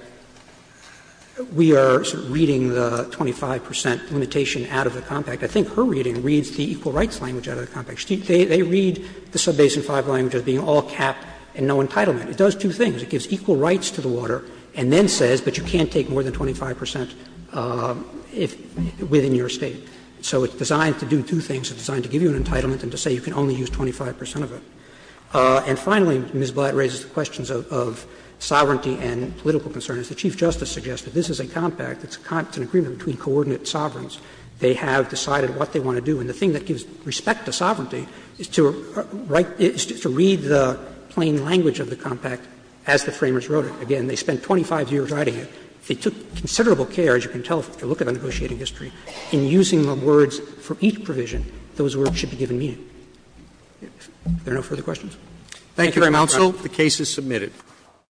we are reading the 25 percent limitation out of the compact. I think her reading reads the equal rights language out of the compact. They read the Subbasin 5 language as being all cap and no entitlement. It does two things. It gives equal rights to the water and then says, but you can't take more than 25 percent within your State. So it's designed to do two things. It's designed to give you an entitlement and to say you can only use 25 percent of it. And, finally, Ms. Blatt raises the questions of sovereignty and political concern. As the Chief Justice suggested, this is a compact. It's an agreement between coordinate sovereigns. They have decided what they want to do. And the thing that gives respect to sovereignty is to write, is to read the plain language of the compact as the Framers wrote it. Again, they spent 25 years writing it. They took considerable care, as you can tell if you look at the negotiating history, in using the words for each provision. Those words should be given meaning. If there are no further questions. Thank you, Your Honor. Roberts. The case is submitted.